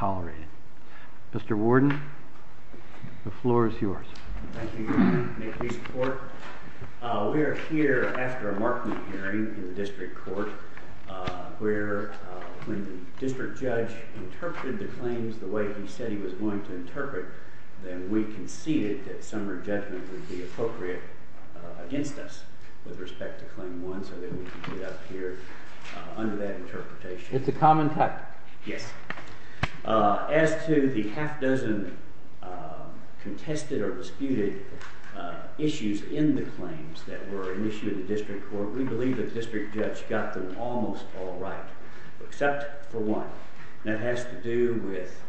Court of Appeal. Mr. Warden, the floor is yours. Thank you, Your Honor. May it please the Court? We are here after a markment hearing in the district court where when the district judge interpreted the claims the way he said he was going to interpret, then we conceded that summary judgment would be appropriate against us with respect to claim one so that we can get up here under that interpretation. It's a common type? Yes. As to the half-dozen contested or disputed issues in the claims that were issued in the district court, we believe the district judge got them almost all right, except for one. That has to do with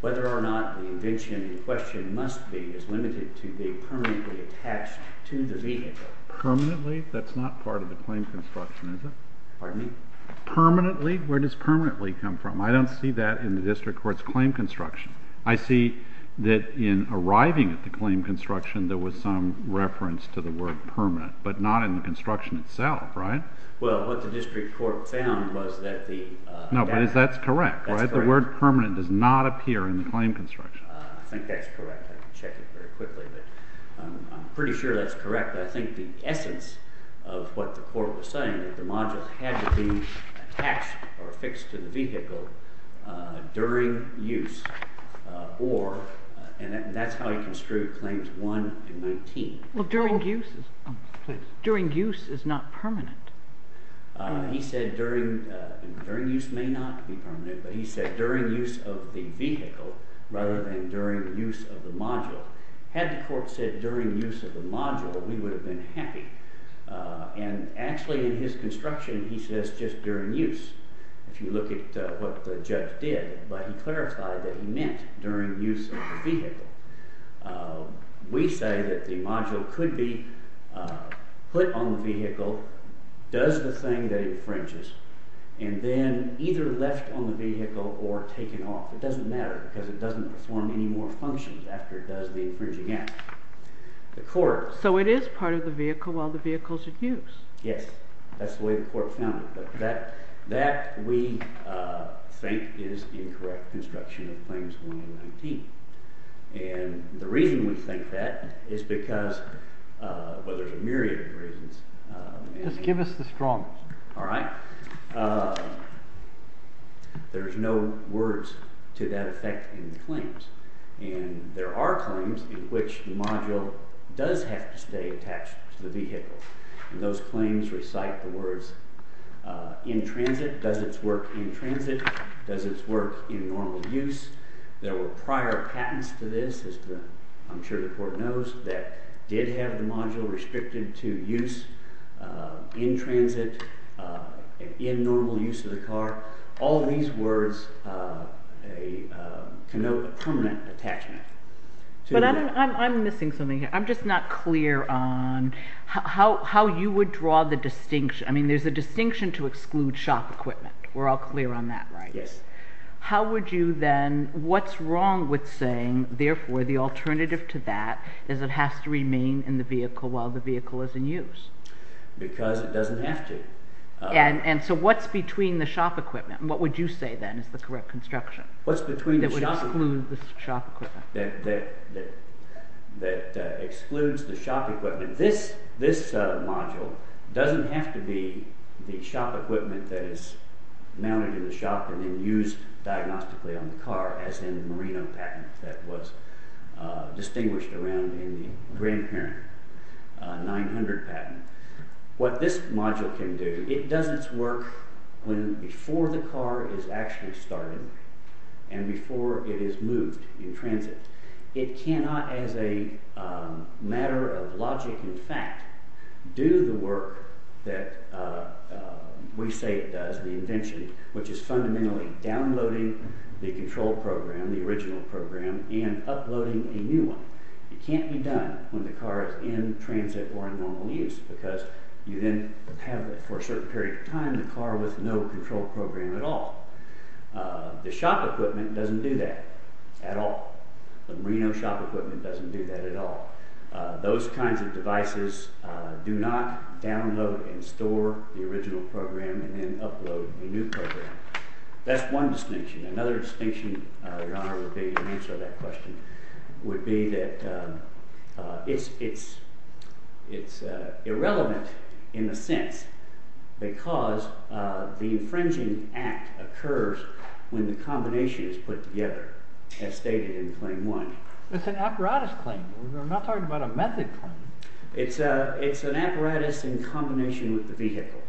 whether or not the invention in question must be as limited to be permanently attached to the vehicle. Permanently? That's not part of the claim construction, is it? Pardon me? Permanently? Where does permanently come from? I don't see that in the district court's claim construction. I see that in arriving at the claim construction, there was some reference to the word permanent, but not in the construction itself, right? Well, what the district court found was that the— No, but that's correct, right? That's correct. The word permanent does not appear in the claim construction. I think that's correct. I can check it very quickly, but I'm pretty sure that's correct. I think the essence of what the court was saying, that the module had to be attached or affixed to the vehicle during use, or—and that's how he construed Claims 1 and 19. During use is not permanent. He said during—and during use may not be permanent, but he said during use of the vehicle rather than during use of the module. Had the court said during use of the module, we would have been happy. And actually, in his construction, he says just during use, if you look at what the judge did. But he clarified that he meant during use of the vehicle. We say that the module could be put on the vehicle, does the thing that infringes, and then either left on the vehicle or taken off. It doesn't matter because it doesn't perform any more functions after it does the infringing act. The court— So the module is part of the vehicle while the vehicle's at use? Yes. That's the way the court found it. But that, we think, is the incorrect construction of Claims 1 and 19. And the reason we think that is because—well, there's a myriad of reasons— Just give us the strong ones. There's no words to that effect in the claims. And there are claims in which the module does have to stay attached to the vehicle. Those claims recite the words, in transit, does its work in transit, does its work in normal use. There were prior patents to this, as I'm sure the court knows, that did have the module restricted to use in transit, in normal use of the car. All these words connote a permanent attachment to the— But I'm missing something here. I'm just not clear on how you would draw the distinction—I mean, there's a distinction to exclude shop equipment. We're all clear on that, right? Yes. How would you then—what's wrong with saying, therefore, the alternative to that is it has to remain in the vehicle while the vehicle is in use? Because it doesn't have to. And so what's between the shop equipment? What would you say, then, is the correct construction? What's between the shop equipment? That would exclude the shop equipment. That excludes the shop equipment. This module doesn't have to be the shop equipment that is mounted in the shop and then used diagnostically on the car, as in the Merino patent that was distinguished around in the grandparent 900 patent. What this module can do, it does its work before the car is actually started and before it is moved in transit. It cannot, as a matter of logic and fact, do the work that we say it does, the invention, which is fundamentally downloading the control program, the original program, and uploading a new one. It can't be done when the car is in transit or in normal use because you then have, for a certain period of time, the car with no control program at all. The shop equipment doesn't do that at all. The Merino shop equipment doesn't do that at all. Those kinds of devices do not download and store the original program and then upload a new program. That's one distinction. Another distinction, Your Honor, would be, to answer that question, would be that it's irrelevant in a sense because the infringing act occurs when the combination is put together, as stated in Claim 1. It's an apparatus claim. We're not talking about a method claim. It's an apparatus in combination with the vehicle.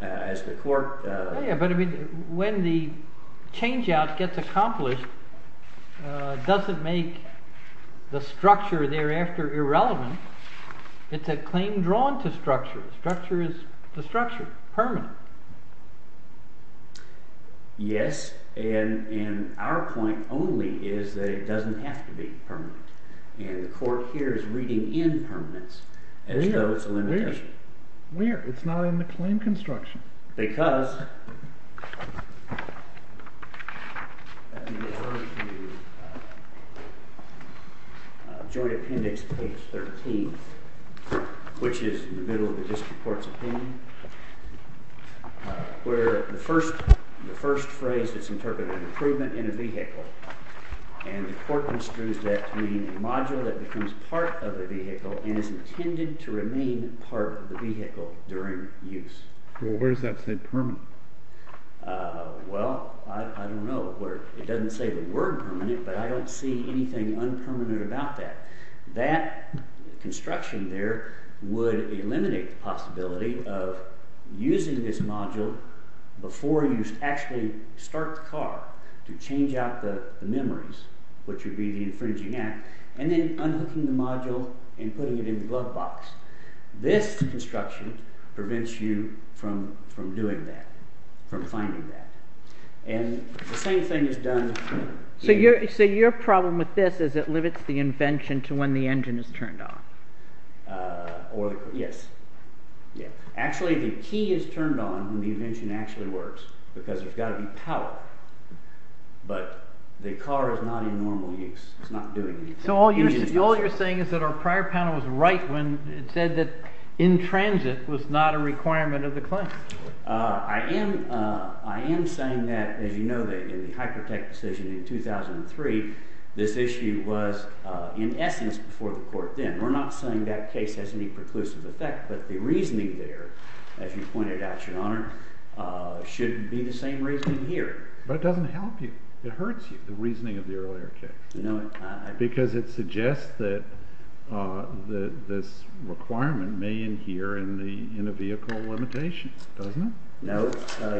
As the court- Yeah, but when the change-out gets accomplished, does it make the structure thereafter irrelevant? It's a claim drawn to structure. Structure is the structure, permanent. Yes, and our point only is that it doesn't have to be permanent, and the court here is reading in permanence as though it's a limitation. Where? It's not in the claim construction. Because, in the Joint Appendix, page 13, which is in the middle of the district court's opinion, where the first phrase is interpreted, improvement in a vehicle, and the court construes that to mean a module that becomes part of the vehicle and is intended to remain part of the vehicle during use. Well, where does that say permanent? Well, I don't know. It doesn't say the word permanent, but I don't see anything unpermanent about that. That construction there would eliminate the possibility of using this module before you actually start the car to change out the memories, which would be the infringing act, and then unhooking the module and putting it in the glove box. This construction prevents you from doing that, from finding that. And the same thing is done... So your problem with this is it limits the invention to when the engine is turned on. Yes. Actually, the key is turned on when the invention actually works, because there's got to be power. But the car is not in normal use. It's not doing anything. So all you're saying is that our prior panel was right when it said that in transit was not a requirement of the claim. I am saying that, as you know, that in the Hypertech decision in 2003, this issue was in essence before the court then. We're not saying that case has any preclusive effect, but the reasoning there, as you pointed out, Your Honor, shouldn't be the same reasoning here. But it doesn't help you. It hurts you, the reasoning of the earlier case. Because it suggests that this requirement may adhere in a vehicle limitation, doesn't it? No,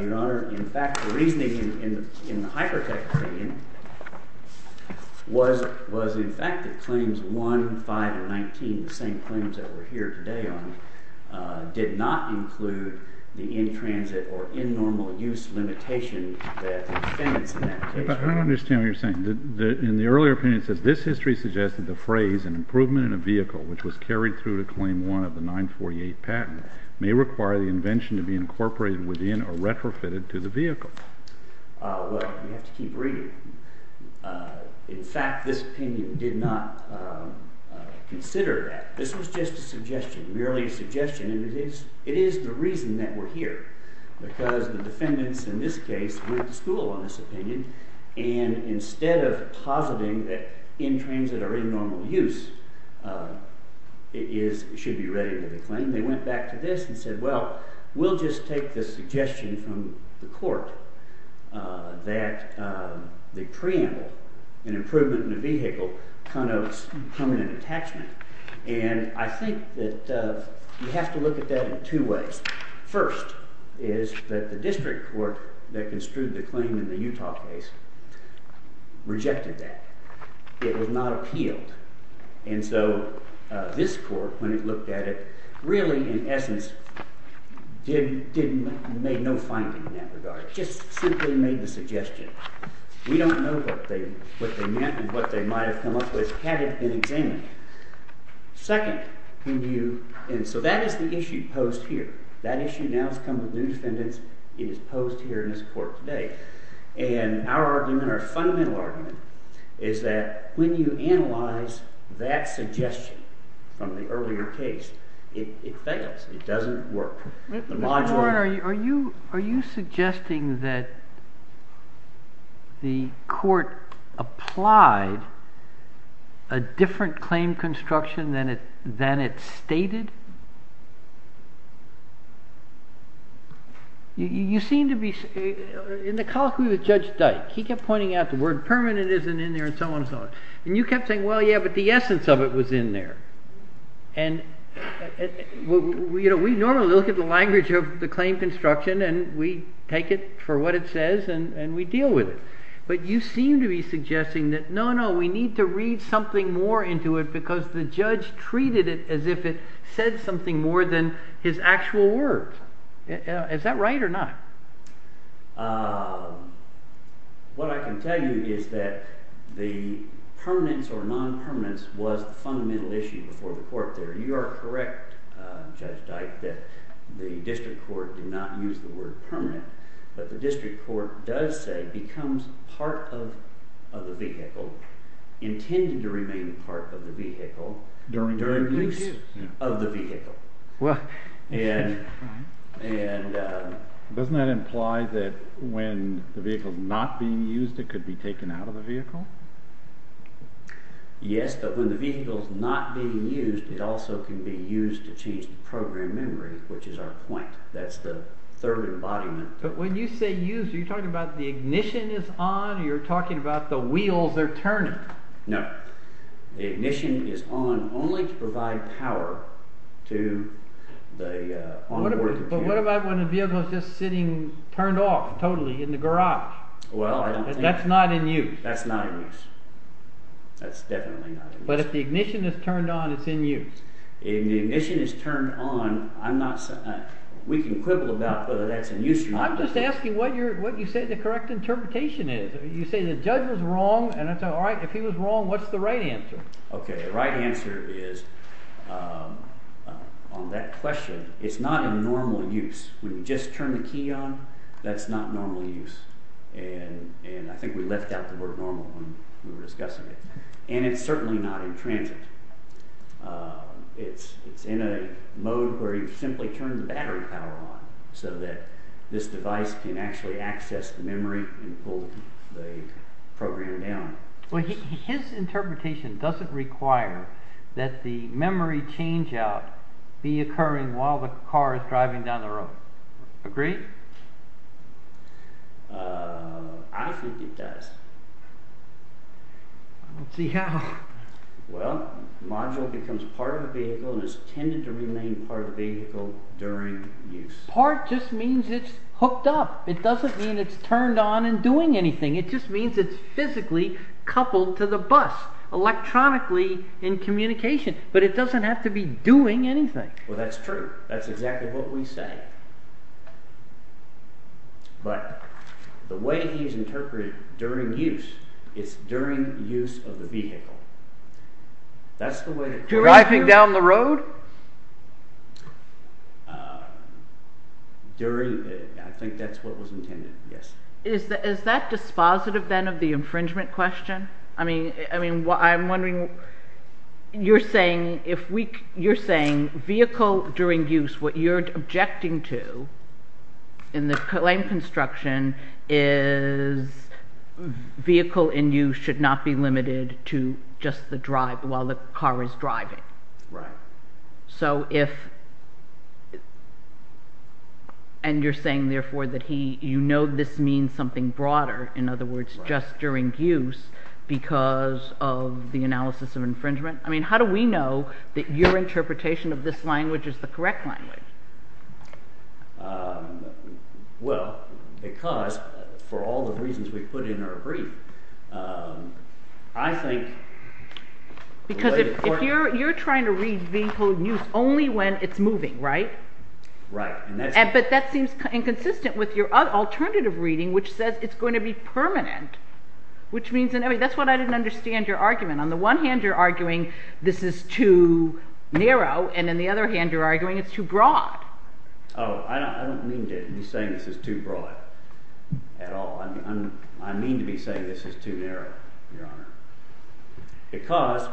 Your Honor. In fact, the reasoning in the Hypertech opinion was in fact that claims 1, 5, or 19, the same claims that we're here today on, did not include the in-transit or in-normal use limitation that the defendants in that case... I don't understand what you're saying. In the earlier opinion it says, this history suggested the phrase, an improvement in a vehicle which was carried through to claim 1 of the 948 patent may require the invention to be incorporated within or retrofitted to the vehicle. Well, you have to keep reading. In fact, this opinion did not consider that. This was just a suggestion, merely a suggestion. And it is the reason that we're here. Because the defendants in this case went to school on this opinion. And instead of positing that in-transit or in-normal use should be ready for the claim, they went back to this and said, well, we'll just take the suggestion from the court that the preamble, an improvement in a vehicle, connotes permanent attachment. And I think that you have to look at that in two ways. First is that the district court that construed the claim in the Utah case rejected that. It was not appealed. And so this court, when it looked at it, really, in essence, made no finding in that regard. It just simply made the suggestion. We don't know what they meant and what they might have come up with had it been examined. Second, when you, and so that is the issue posed here. That issue now has come with new defendants. It is posed here in this court today. And our argument, our fundamental argument, is that when you analyze that suggestion from the earlier case, it fails. It doesn't work. Mr. Warren, are you suggesting that the court applied a different claim construction than it stated? You seem to be, in the colloquy with Judge Dyke, he kept pointing out the word permanent isn't in there and so on and so on. And you kept saying, well, yeah, but the essence of it was in there. And we normally look at the language of the claim construction and we take it for what it says and we deal with it. But you seem to be suggesting that, no, no, we need to read something more into it because the judge treated it as if it said something more than his actual words. Is that right or not? What I can tell you is that the permanence or non-permanence was the fundamental issue before the court there. You are correct, Judge Dyke, that the district court did not use the word permanent. But the district court does say becomes part of the vehicle, intended to remain part of the vehicle, during the use of the vehicle. And doesn't that imply that when the vehicle is not being used, it could be taken out of the vehicle? Yes, but when the vehicle is not being used, it also can be used to change the program memory, which is our point. That's the third embodiment. But when you say used, are you talking about the ignition is on or you're talking about the wheels they're turning? No. The ignition is on only to provide power to the onboard computer. But what about when the vehicle is just sitting turned off, totally, in the garage? Well, I don't think… That's not in use. That's not in use. That's definitely not in use. But if the ignition is turned on, it's in use. If the ignition is turned on, we can quibble about whether that's in use or not. I'm just asking what you say the correct interpretation is. You say the judge was wrong, and I say, all right, if he was wrong, what's the right answer? Okay, the right answer is, on that question, it's not in normal use. When you just turn the key on, that's not normal use. And I think we left out the word normal when we were discussing it. And it's certainly not in transit. It's in a mode where you simply turn the battery power on, so that this device can actually access the memory and pull the program down. Well, his interpretation doesn't require that the memory change-out be occurring while the car is driving down the road. Agree? I think it does. Let's see how. Well, the module becomes part of the vehicle and is intended to remain part of the vehicle during use. Part just means it's hooked up. It doesn't mean it's turned on and doing anything. It just means it's physically coupled to the bus, electronically in communication. But it doesn't have to be doing anything. Well, that's true. That's exactly what we say. But the way he's interpreted during use, it's during use of the vehicle. Driving down the road? I think that's what was intended, yes. Is that dispositive, then, of the infringement question? I mean, I'm wondering, you're saying vehicle during use, what you're objecting to in the claim construction is vehicle in use should not be limited to just the drive while the car is driving. Right. So if... And you're saying, therefore, that you know this means something broader. In other words, just during use because of the analysis of infringement. I mean, how do we know that your interpretation of this language is the correct language? Well, because for all the reasons we put in our brief, I think... Because if you're trying to read vehicle in use only when it's moving, right? Right. But that seems inconsistent with your alternative reading, which says it's going to be permanent. Which means, I mean, that's why I didn't understand your argument. On the one hand, you're arguing this is too narrow, and on the other hand, you're arguing it's too broad. Oh, I don't mean to be saying this is too broad at all. I mean to be saying this is too narrow, Your Honor. Because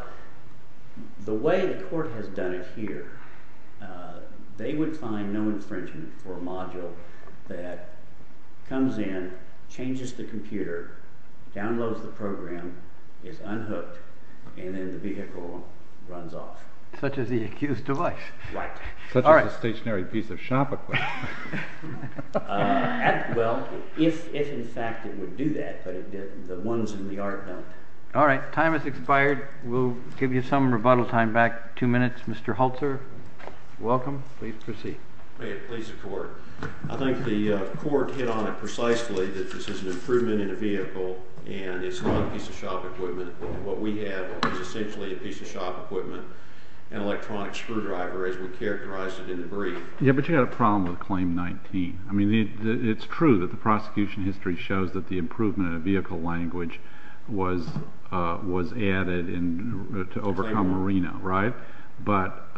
the way the court has done it here, they would find no infringement for a module that comes in, changes the computer, downloads the program, is unhooked, and then the vehicle runs off. Such as the accused device. Right. Such as a stationary piece of shop equipment. Well, if in fact it would do that, but the ones in the art don't. All right, time has expired. We'll give you some rebuttal time back. Two minutes. Mr. Holzer, welcome. Please proceed. May it please the court. I think the court hit on it precisely, that this is an improvement in a vehicle, and it's not a piece of shop equipment. What we have is essentially a piece of shop equipment, an electronic screwdriver, as we characterized it in the brief. Yeah, but you've got a problem with Claim 19. I mean, it's true that the prosecution history shows that the improvement in a vehicle language was added to overcome Reno, right? But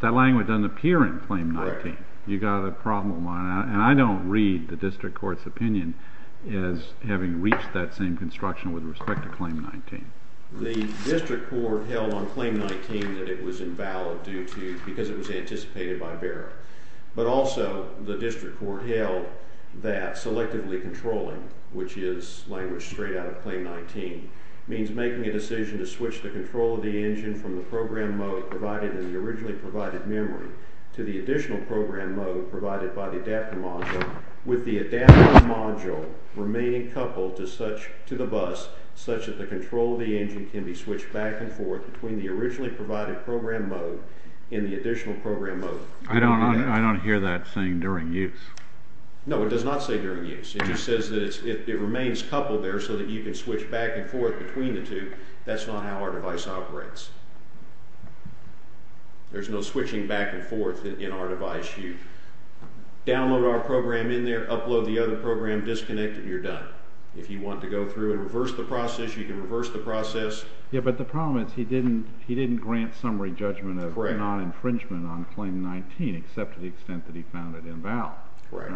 that language doesn't appear in Claim 19. Right. You've got a problem, and I don't read the district court's opinion as having reached that same construction with respect to Claim 19. The district court held on Claim 19 that it was invalid because it was anticipated by Barrett. But also the district court held that selectively controlling, which is language straight out of Claim 19, means making a decision to switch the control of the engine from the program mode provided in the originally provided memory to the additional program mode provided by the adapter module, with the adapter module remaining coupled to the bus such that the control of the engine can be switched back and forth between the originally provided program mode and the additional program mode. I don't hear that saying during use. No, it does not say during use. It just says that it remains coupled there so that you can switch back and forth between the two. That's not how our device operates. There's no switching back and forth in our device. You download our program in there, upload the other program, disconnect it, and you're done. If you want to go through and reverse the process, you can reverse the process. Yeah, but the problem is he didn't grant summary judgment of non-infringement on Claim 19 except to the extent that he found it invalid. Right.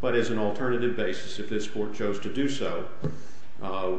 But as an alternative basis, if this court chose to do so,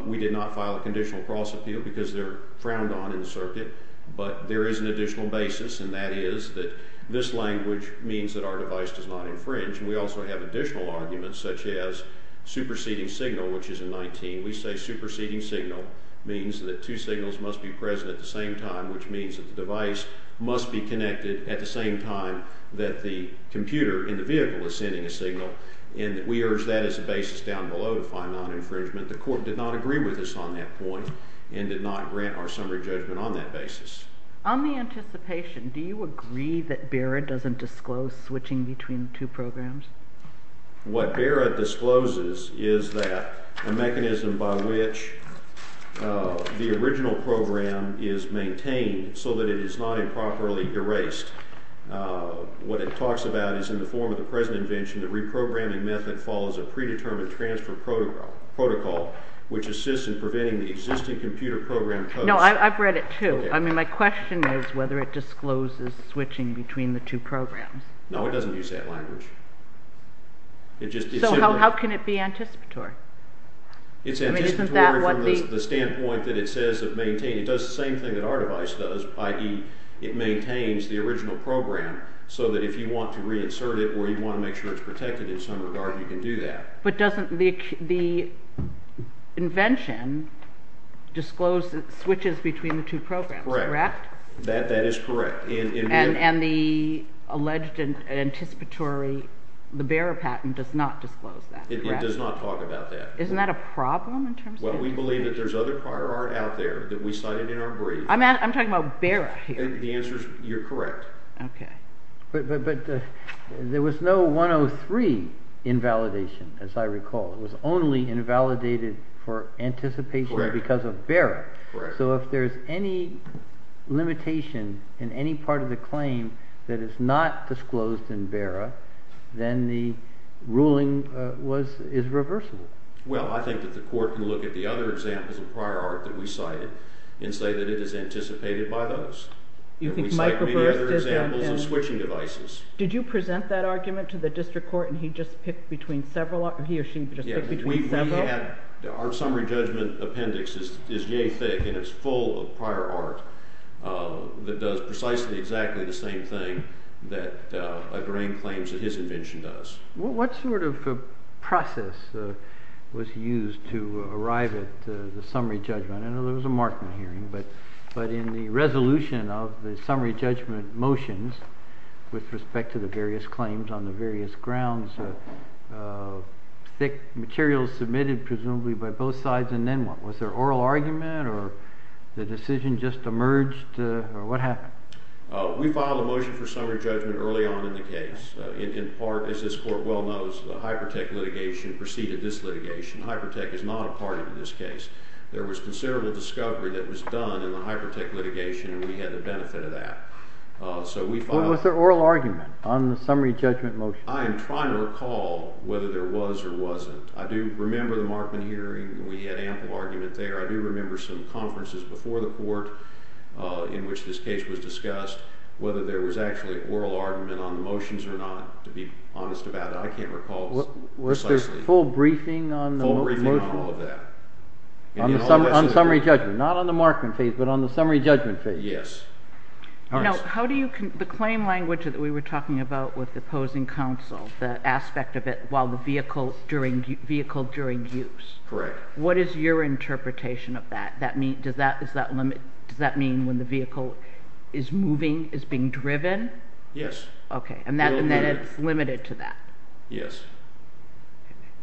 we did not file a conditional cross appeal because they're frowned on in the circuit. But there is an additional basis, and that is that this language means that our device does not infringe. And we also have additional arguments, such as superseding signal, which is in 19. We say superseding signal means that two signals must be present at the same time, which means that the device must be connected at the same time that the computer in the vehicle is sending a signal. And we urge that as a basis down below to find non-infringement. The court did not agree with us on that point and did not grant our summary judgment on that basis. On the anticipation, do you agree that Barrett doesn't disclose switching between the two programs? What Barrett discloses is that a mechanism by which the original program is maintained so that it is not improperly erased. What it talks about is in the form of the present invention, the reprogramming method follows a predetermined transfer protocol, which assists in preventing the existing computer program codes. No, I've read it, too. I mean, my question is whether it discloses switching between the two programs. No, it doesn't use that language. So how can it be anticipatory? It's anticipatory from the standpoint that it does the same thing that our device does, i.e., it maintains the original program so that if you want to reinsert it or you want to make sure it's protected in some regard, you can do that. But doesn't the invention disclose switches between the two programs, correct? Correct. That is correct. And the alleged anticipatory, the Barrett patent does not disclose that, correct? It does not talk about that. Isn't that a problem in terms of… Well, we believe that there's other prior art out there that we cited in our brief. I'm talking about Barrett here. The answer is you're correct. Okay. But there was no 103 invalidation, as I recall. It was only invalidated for anticipation because of Barrett. Correct. So if there's any limitation in any part of the claim that is not disclosed in Barrett, then the ruling is reversible. Well, I think that the court can look at the other examples of prior art that we cited and say that it is anticipated by those. We cite many other examples of switching devices. Did you present that argument to the district court and he or she just picked between several? Our summary judgment appendix is yay thick and it's full of prior art that does precisely exactly the same thing that a grain claims that his invention does. What sort of process was used to arrive at the summary judgment? I know there was a marking hearing, but in the resolution of the summary judgment motions with respect to the various claims on the various grounds, thick materials submitted presumably by both sides and then what? Was there oral argument or the decision just emerged or what happened? We filed a motion for summary judgment early on in the case. In part, as this court well knows, the Hypertech litigation preceded this litigation. Hypertech is not a party to this case. There was considerable discovery that was done in the Hypertech litigation and we had the benefit of that. Was there oral argument on the summary judgment motion? I am trying to recall whether there was or wasn't. I do remember the marking hearing. We had ample argument there. I do remember some conferences before the court in which this case was discussed, whether there was actually oral argument on the motions or not, to be honest about it. I can't recall precisely. Was there a full briefing on the motion? Full briefing on all of that. On summary judgment, not on the marking phase, but on the summary judgment phase. Yes. Now, the claim language that we were talking about with opposing counsel, the aspect of it while the vehicle during use. Correct. What is your interpretation of that? Does that mean when the vehicle is moving, is being driven? Yes. Okay, and then it's limited to that. Yes.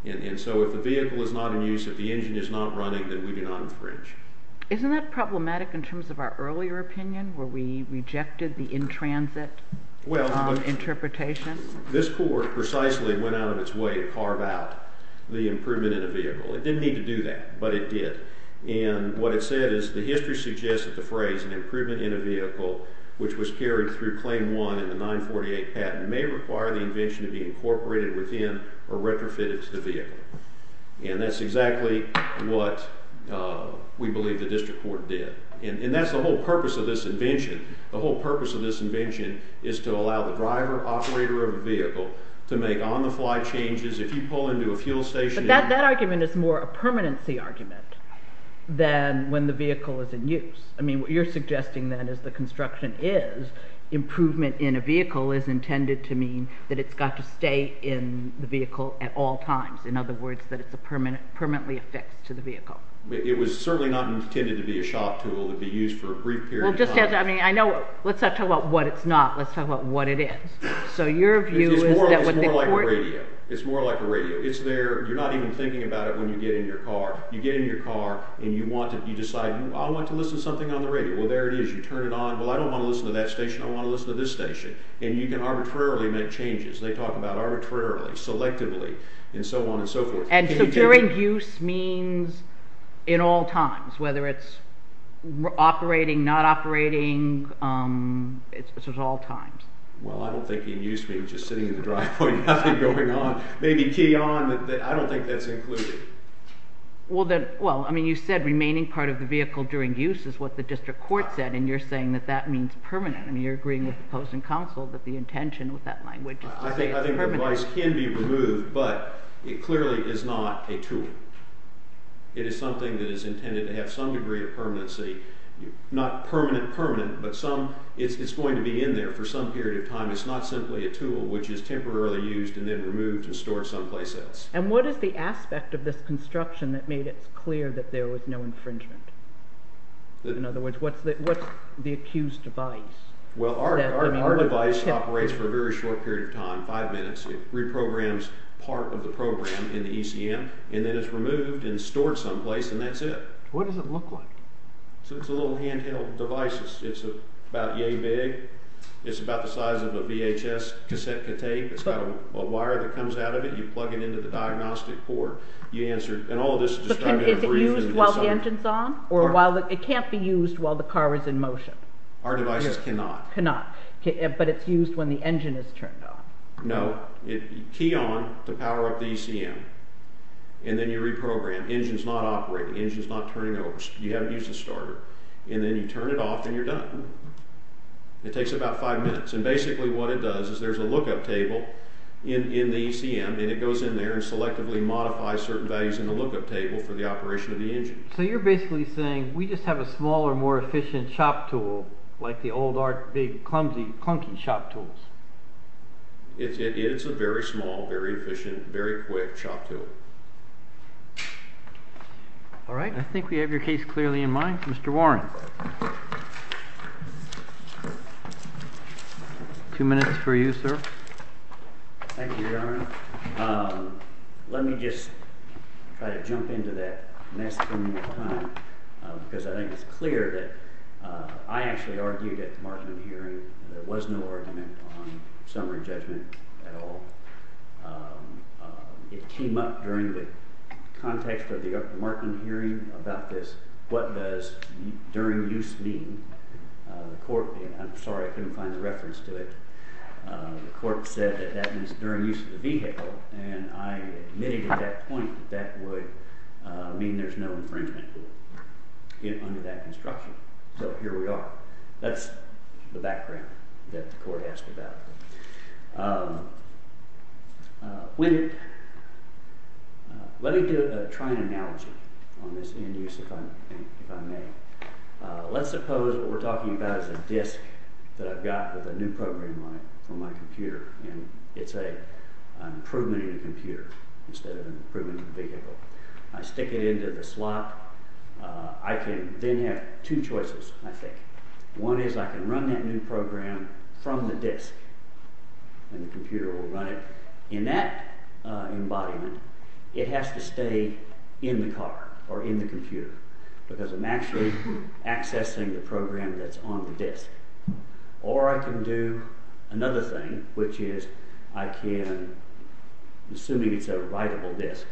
And so if the vehicle is not in use, if the engine is not running, then we do not infringe. Isn't that problematic in terms of our earlier opinion where we rejected the in-transit interpretation? Well, this court precisely went out of its way to carve out the improvement in a vehicle. It didn't need to do that, but it did. And what it said is the history suggests that the phrase, an improvement in a vehicle which was carried through claim one in the 948 patent may require the invention to be incorporated within or retrofitted to the vehicle. And that's exactly what we believe the district court did. And that's the whole purpose of this invention. The whole purpose of this invention is to allow the driver, operator of a vehicle, to make on-the-fly changes if you pull into a fuel station. But that argument is more a permanency argument than when the vehicle is in use. I mean, what you're suggesting then is the construction is improvement in a vehicle is intended to mean that it's got to stay in the vehicle at all times. In other words, that it's a permanently affixed to the vehicle. It was certainly not intended to be a shop tool to be used for a brief period of time. I know. Let's not talk about what it's not. Let's talk about what it is. It's more like a radio. It's there. You're not even thinking about it when you get in your car. You get in your car and you decide, I want to listen to something on the radio. Well, there it is. You turn it on. Well, I don't want to listen to that station. I want to listen to this station. And you can arbitrarily make changes. They talk about arbitrarily, selectively, and so on and so forth. And so during use means in all times, whether it's operating, not operating. It's at all times. Well, I don't think in use means just sitting in the driveway and nothing going on. Maybe key on. I don't think that's included. Well, I mean, you said remaining part of the vehicle during use is what the district court said, and you're saying that that means permanent. I mean, you're agreeing with the opposing counsel that the intention with that language is to say it's permanent. I think the device can be removed, but it clearly is not a tool. It is something that is intended to have some degree of permanency, not permanent-permanent, but it's going to be in there for some period of time. It's not simply a tool which is temporarily used and then removed and stored someplace else. And what is the aspect of this construction that made it clear that there was no infringement? In other words, what's the accused device? Well, our device operates for a very short period of time, five minutes. It reprograms part of the program in the ECM, and then it's removed and stored someplace, and that's it. What does it look like? It's a little handheld device. It's about yea big. It's about the size of a VHS cassette tape. It's got a wire that comes out of it. You plug it into the diagnostic port. Is it used while the engine's on, or it can't be used while the car is in motion? Our devices cannot. But it's used when the engine is turned on. No. You key on to power up the ECM, and then you reprogram. The engine's not operating. The engine's not turning over. You haven't used the starter. And then you turn it off, and you're done. It takes about five minutes. And basically what it does is there's a lookup table in the ECM, and it goes in there and selectively modifies certain values in the lookup table for the operation of the engine. So you're basically saying we just have a smaller, more efficient shop tool like the old, big, clunky shop tools. It is a very small, very efficient, very quick shop tool. All right. I think we have your case clearly in mind. Mr. Warren. Two minutes for you, sir. Thank you, Your Honor. Let me just try to jump into that mess from your time, because I think it's clear that I actually argued at the Markman hearing that there was no argument on summary judgment at all. It came up during the context of the Markman hearing about this, what does during use mean? I'm sorry, I couldn't find the reference to it. The court said that that means during use of the vehicle, and I admitted at that point that that would mean there's no infringement under that construction. So here we are. That's the background that the court asked about. Let me try an analogy on this end use, if I may. Let's suppose what we're talking about is a disc that I've got with a new program on it from my computer, and it's an improvement in a computer instead of an improvement in a vehicle. I stick it into the slot. I can then have two choices, I think. One is I can run that new program from the disc, and the computer will run it. In that embodiment, it has to stay in the car or in the computer, because I'm actually accessing the program that's on the disc. Or I can do another thing, which is I can, assuming it's a writable disc,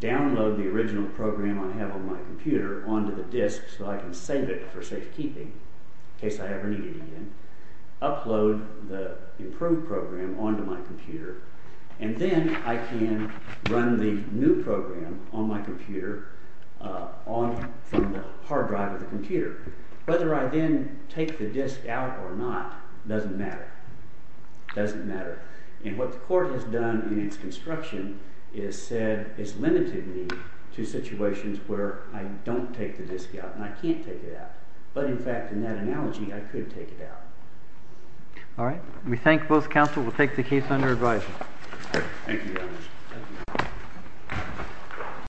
download the original program I have on my computer onto the disc so I can save it for safekeeping in case I ever need it again, upload the improved program onto my computer, and then I can run the new program on my computer from the hard drive of the computer. Whether I then take the disc out or not doesn't matter. It doesn't matter. And what the court has done in its construction is said it's limited me to situations where I don't take the disc out and I can't take it out. But in fact, in that analogy, I could take it out. All right. We thank both counsel. We'll take the case under advice.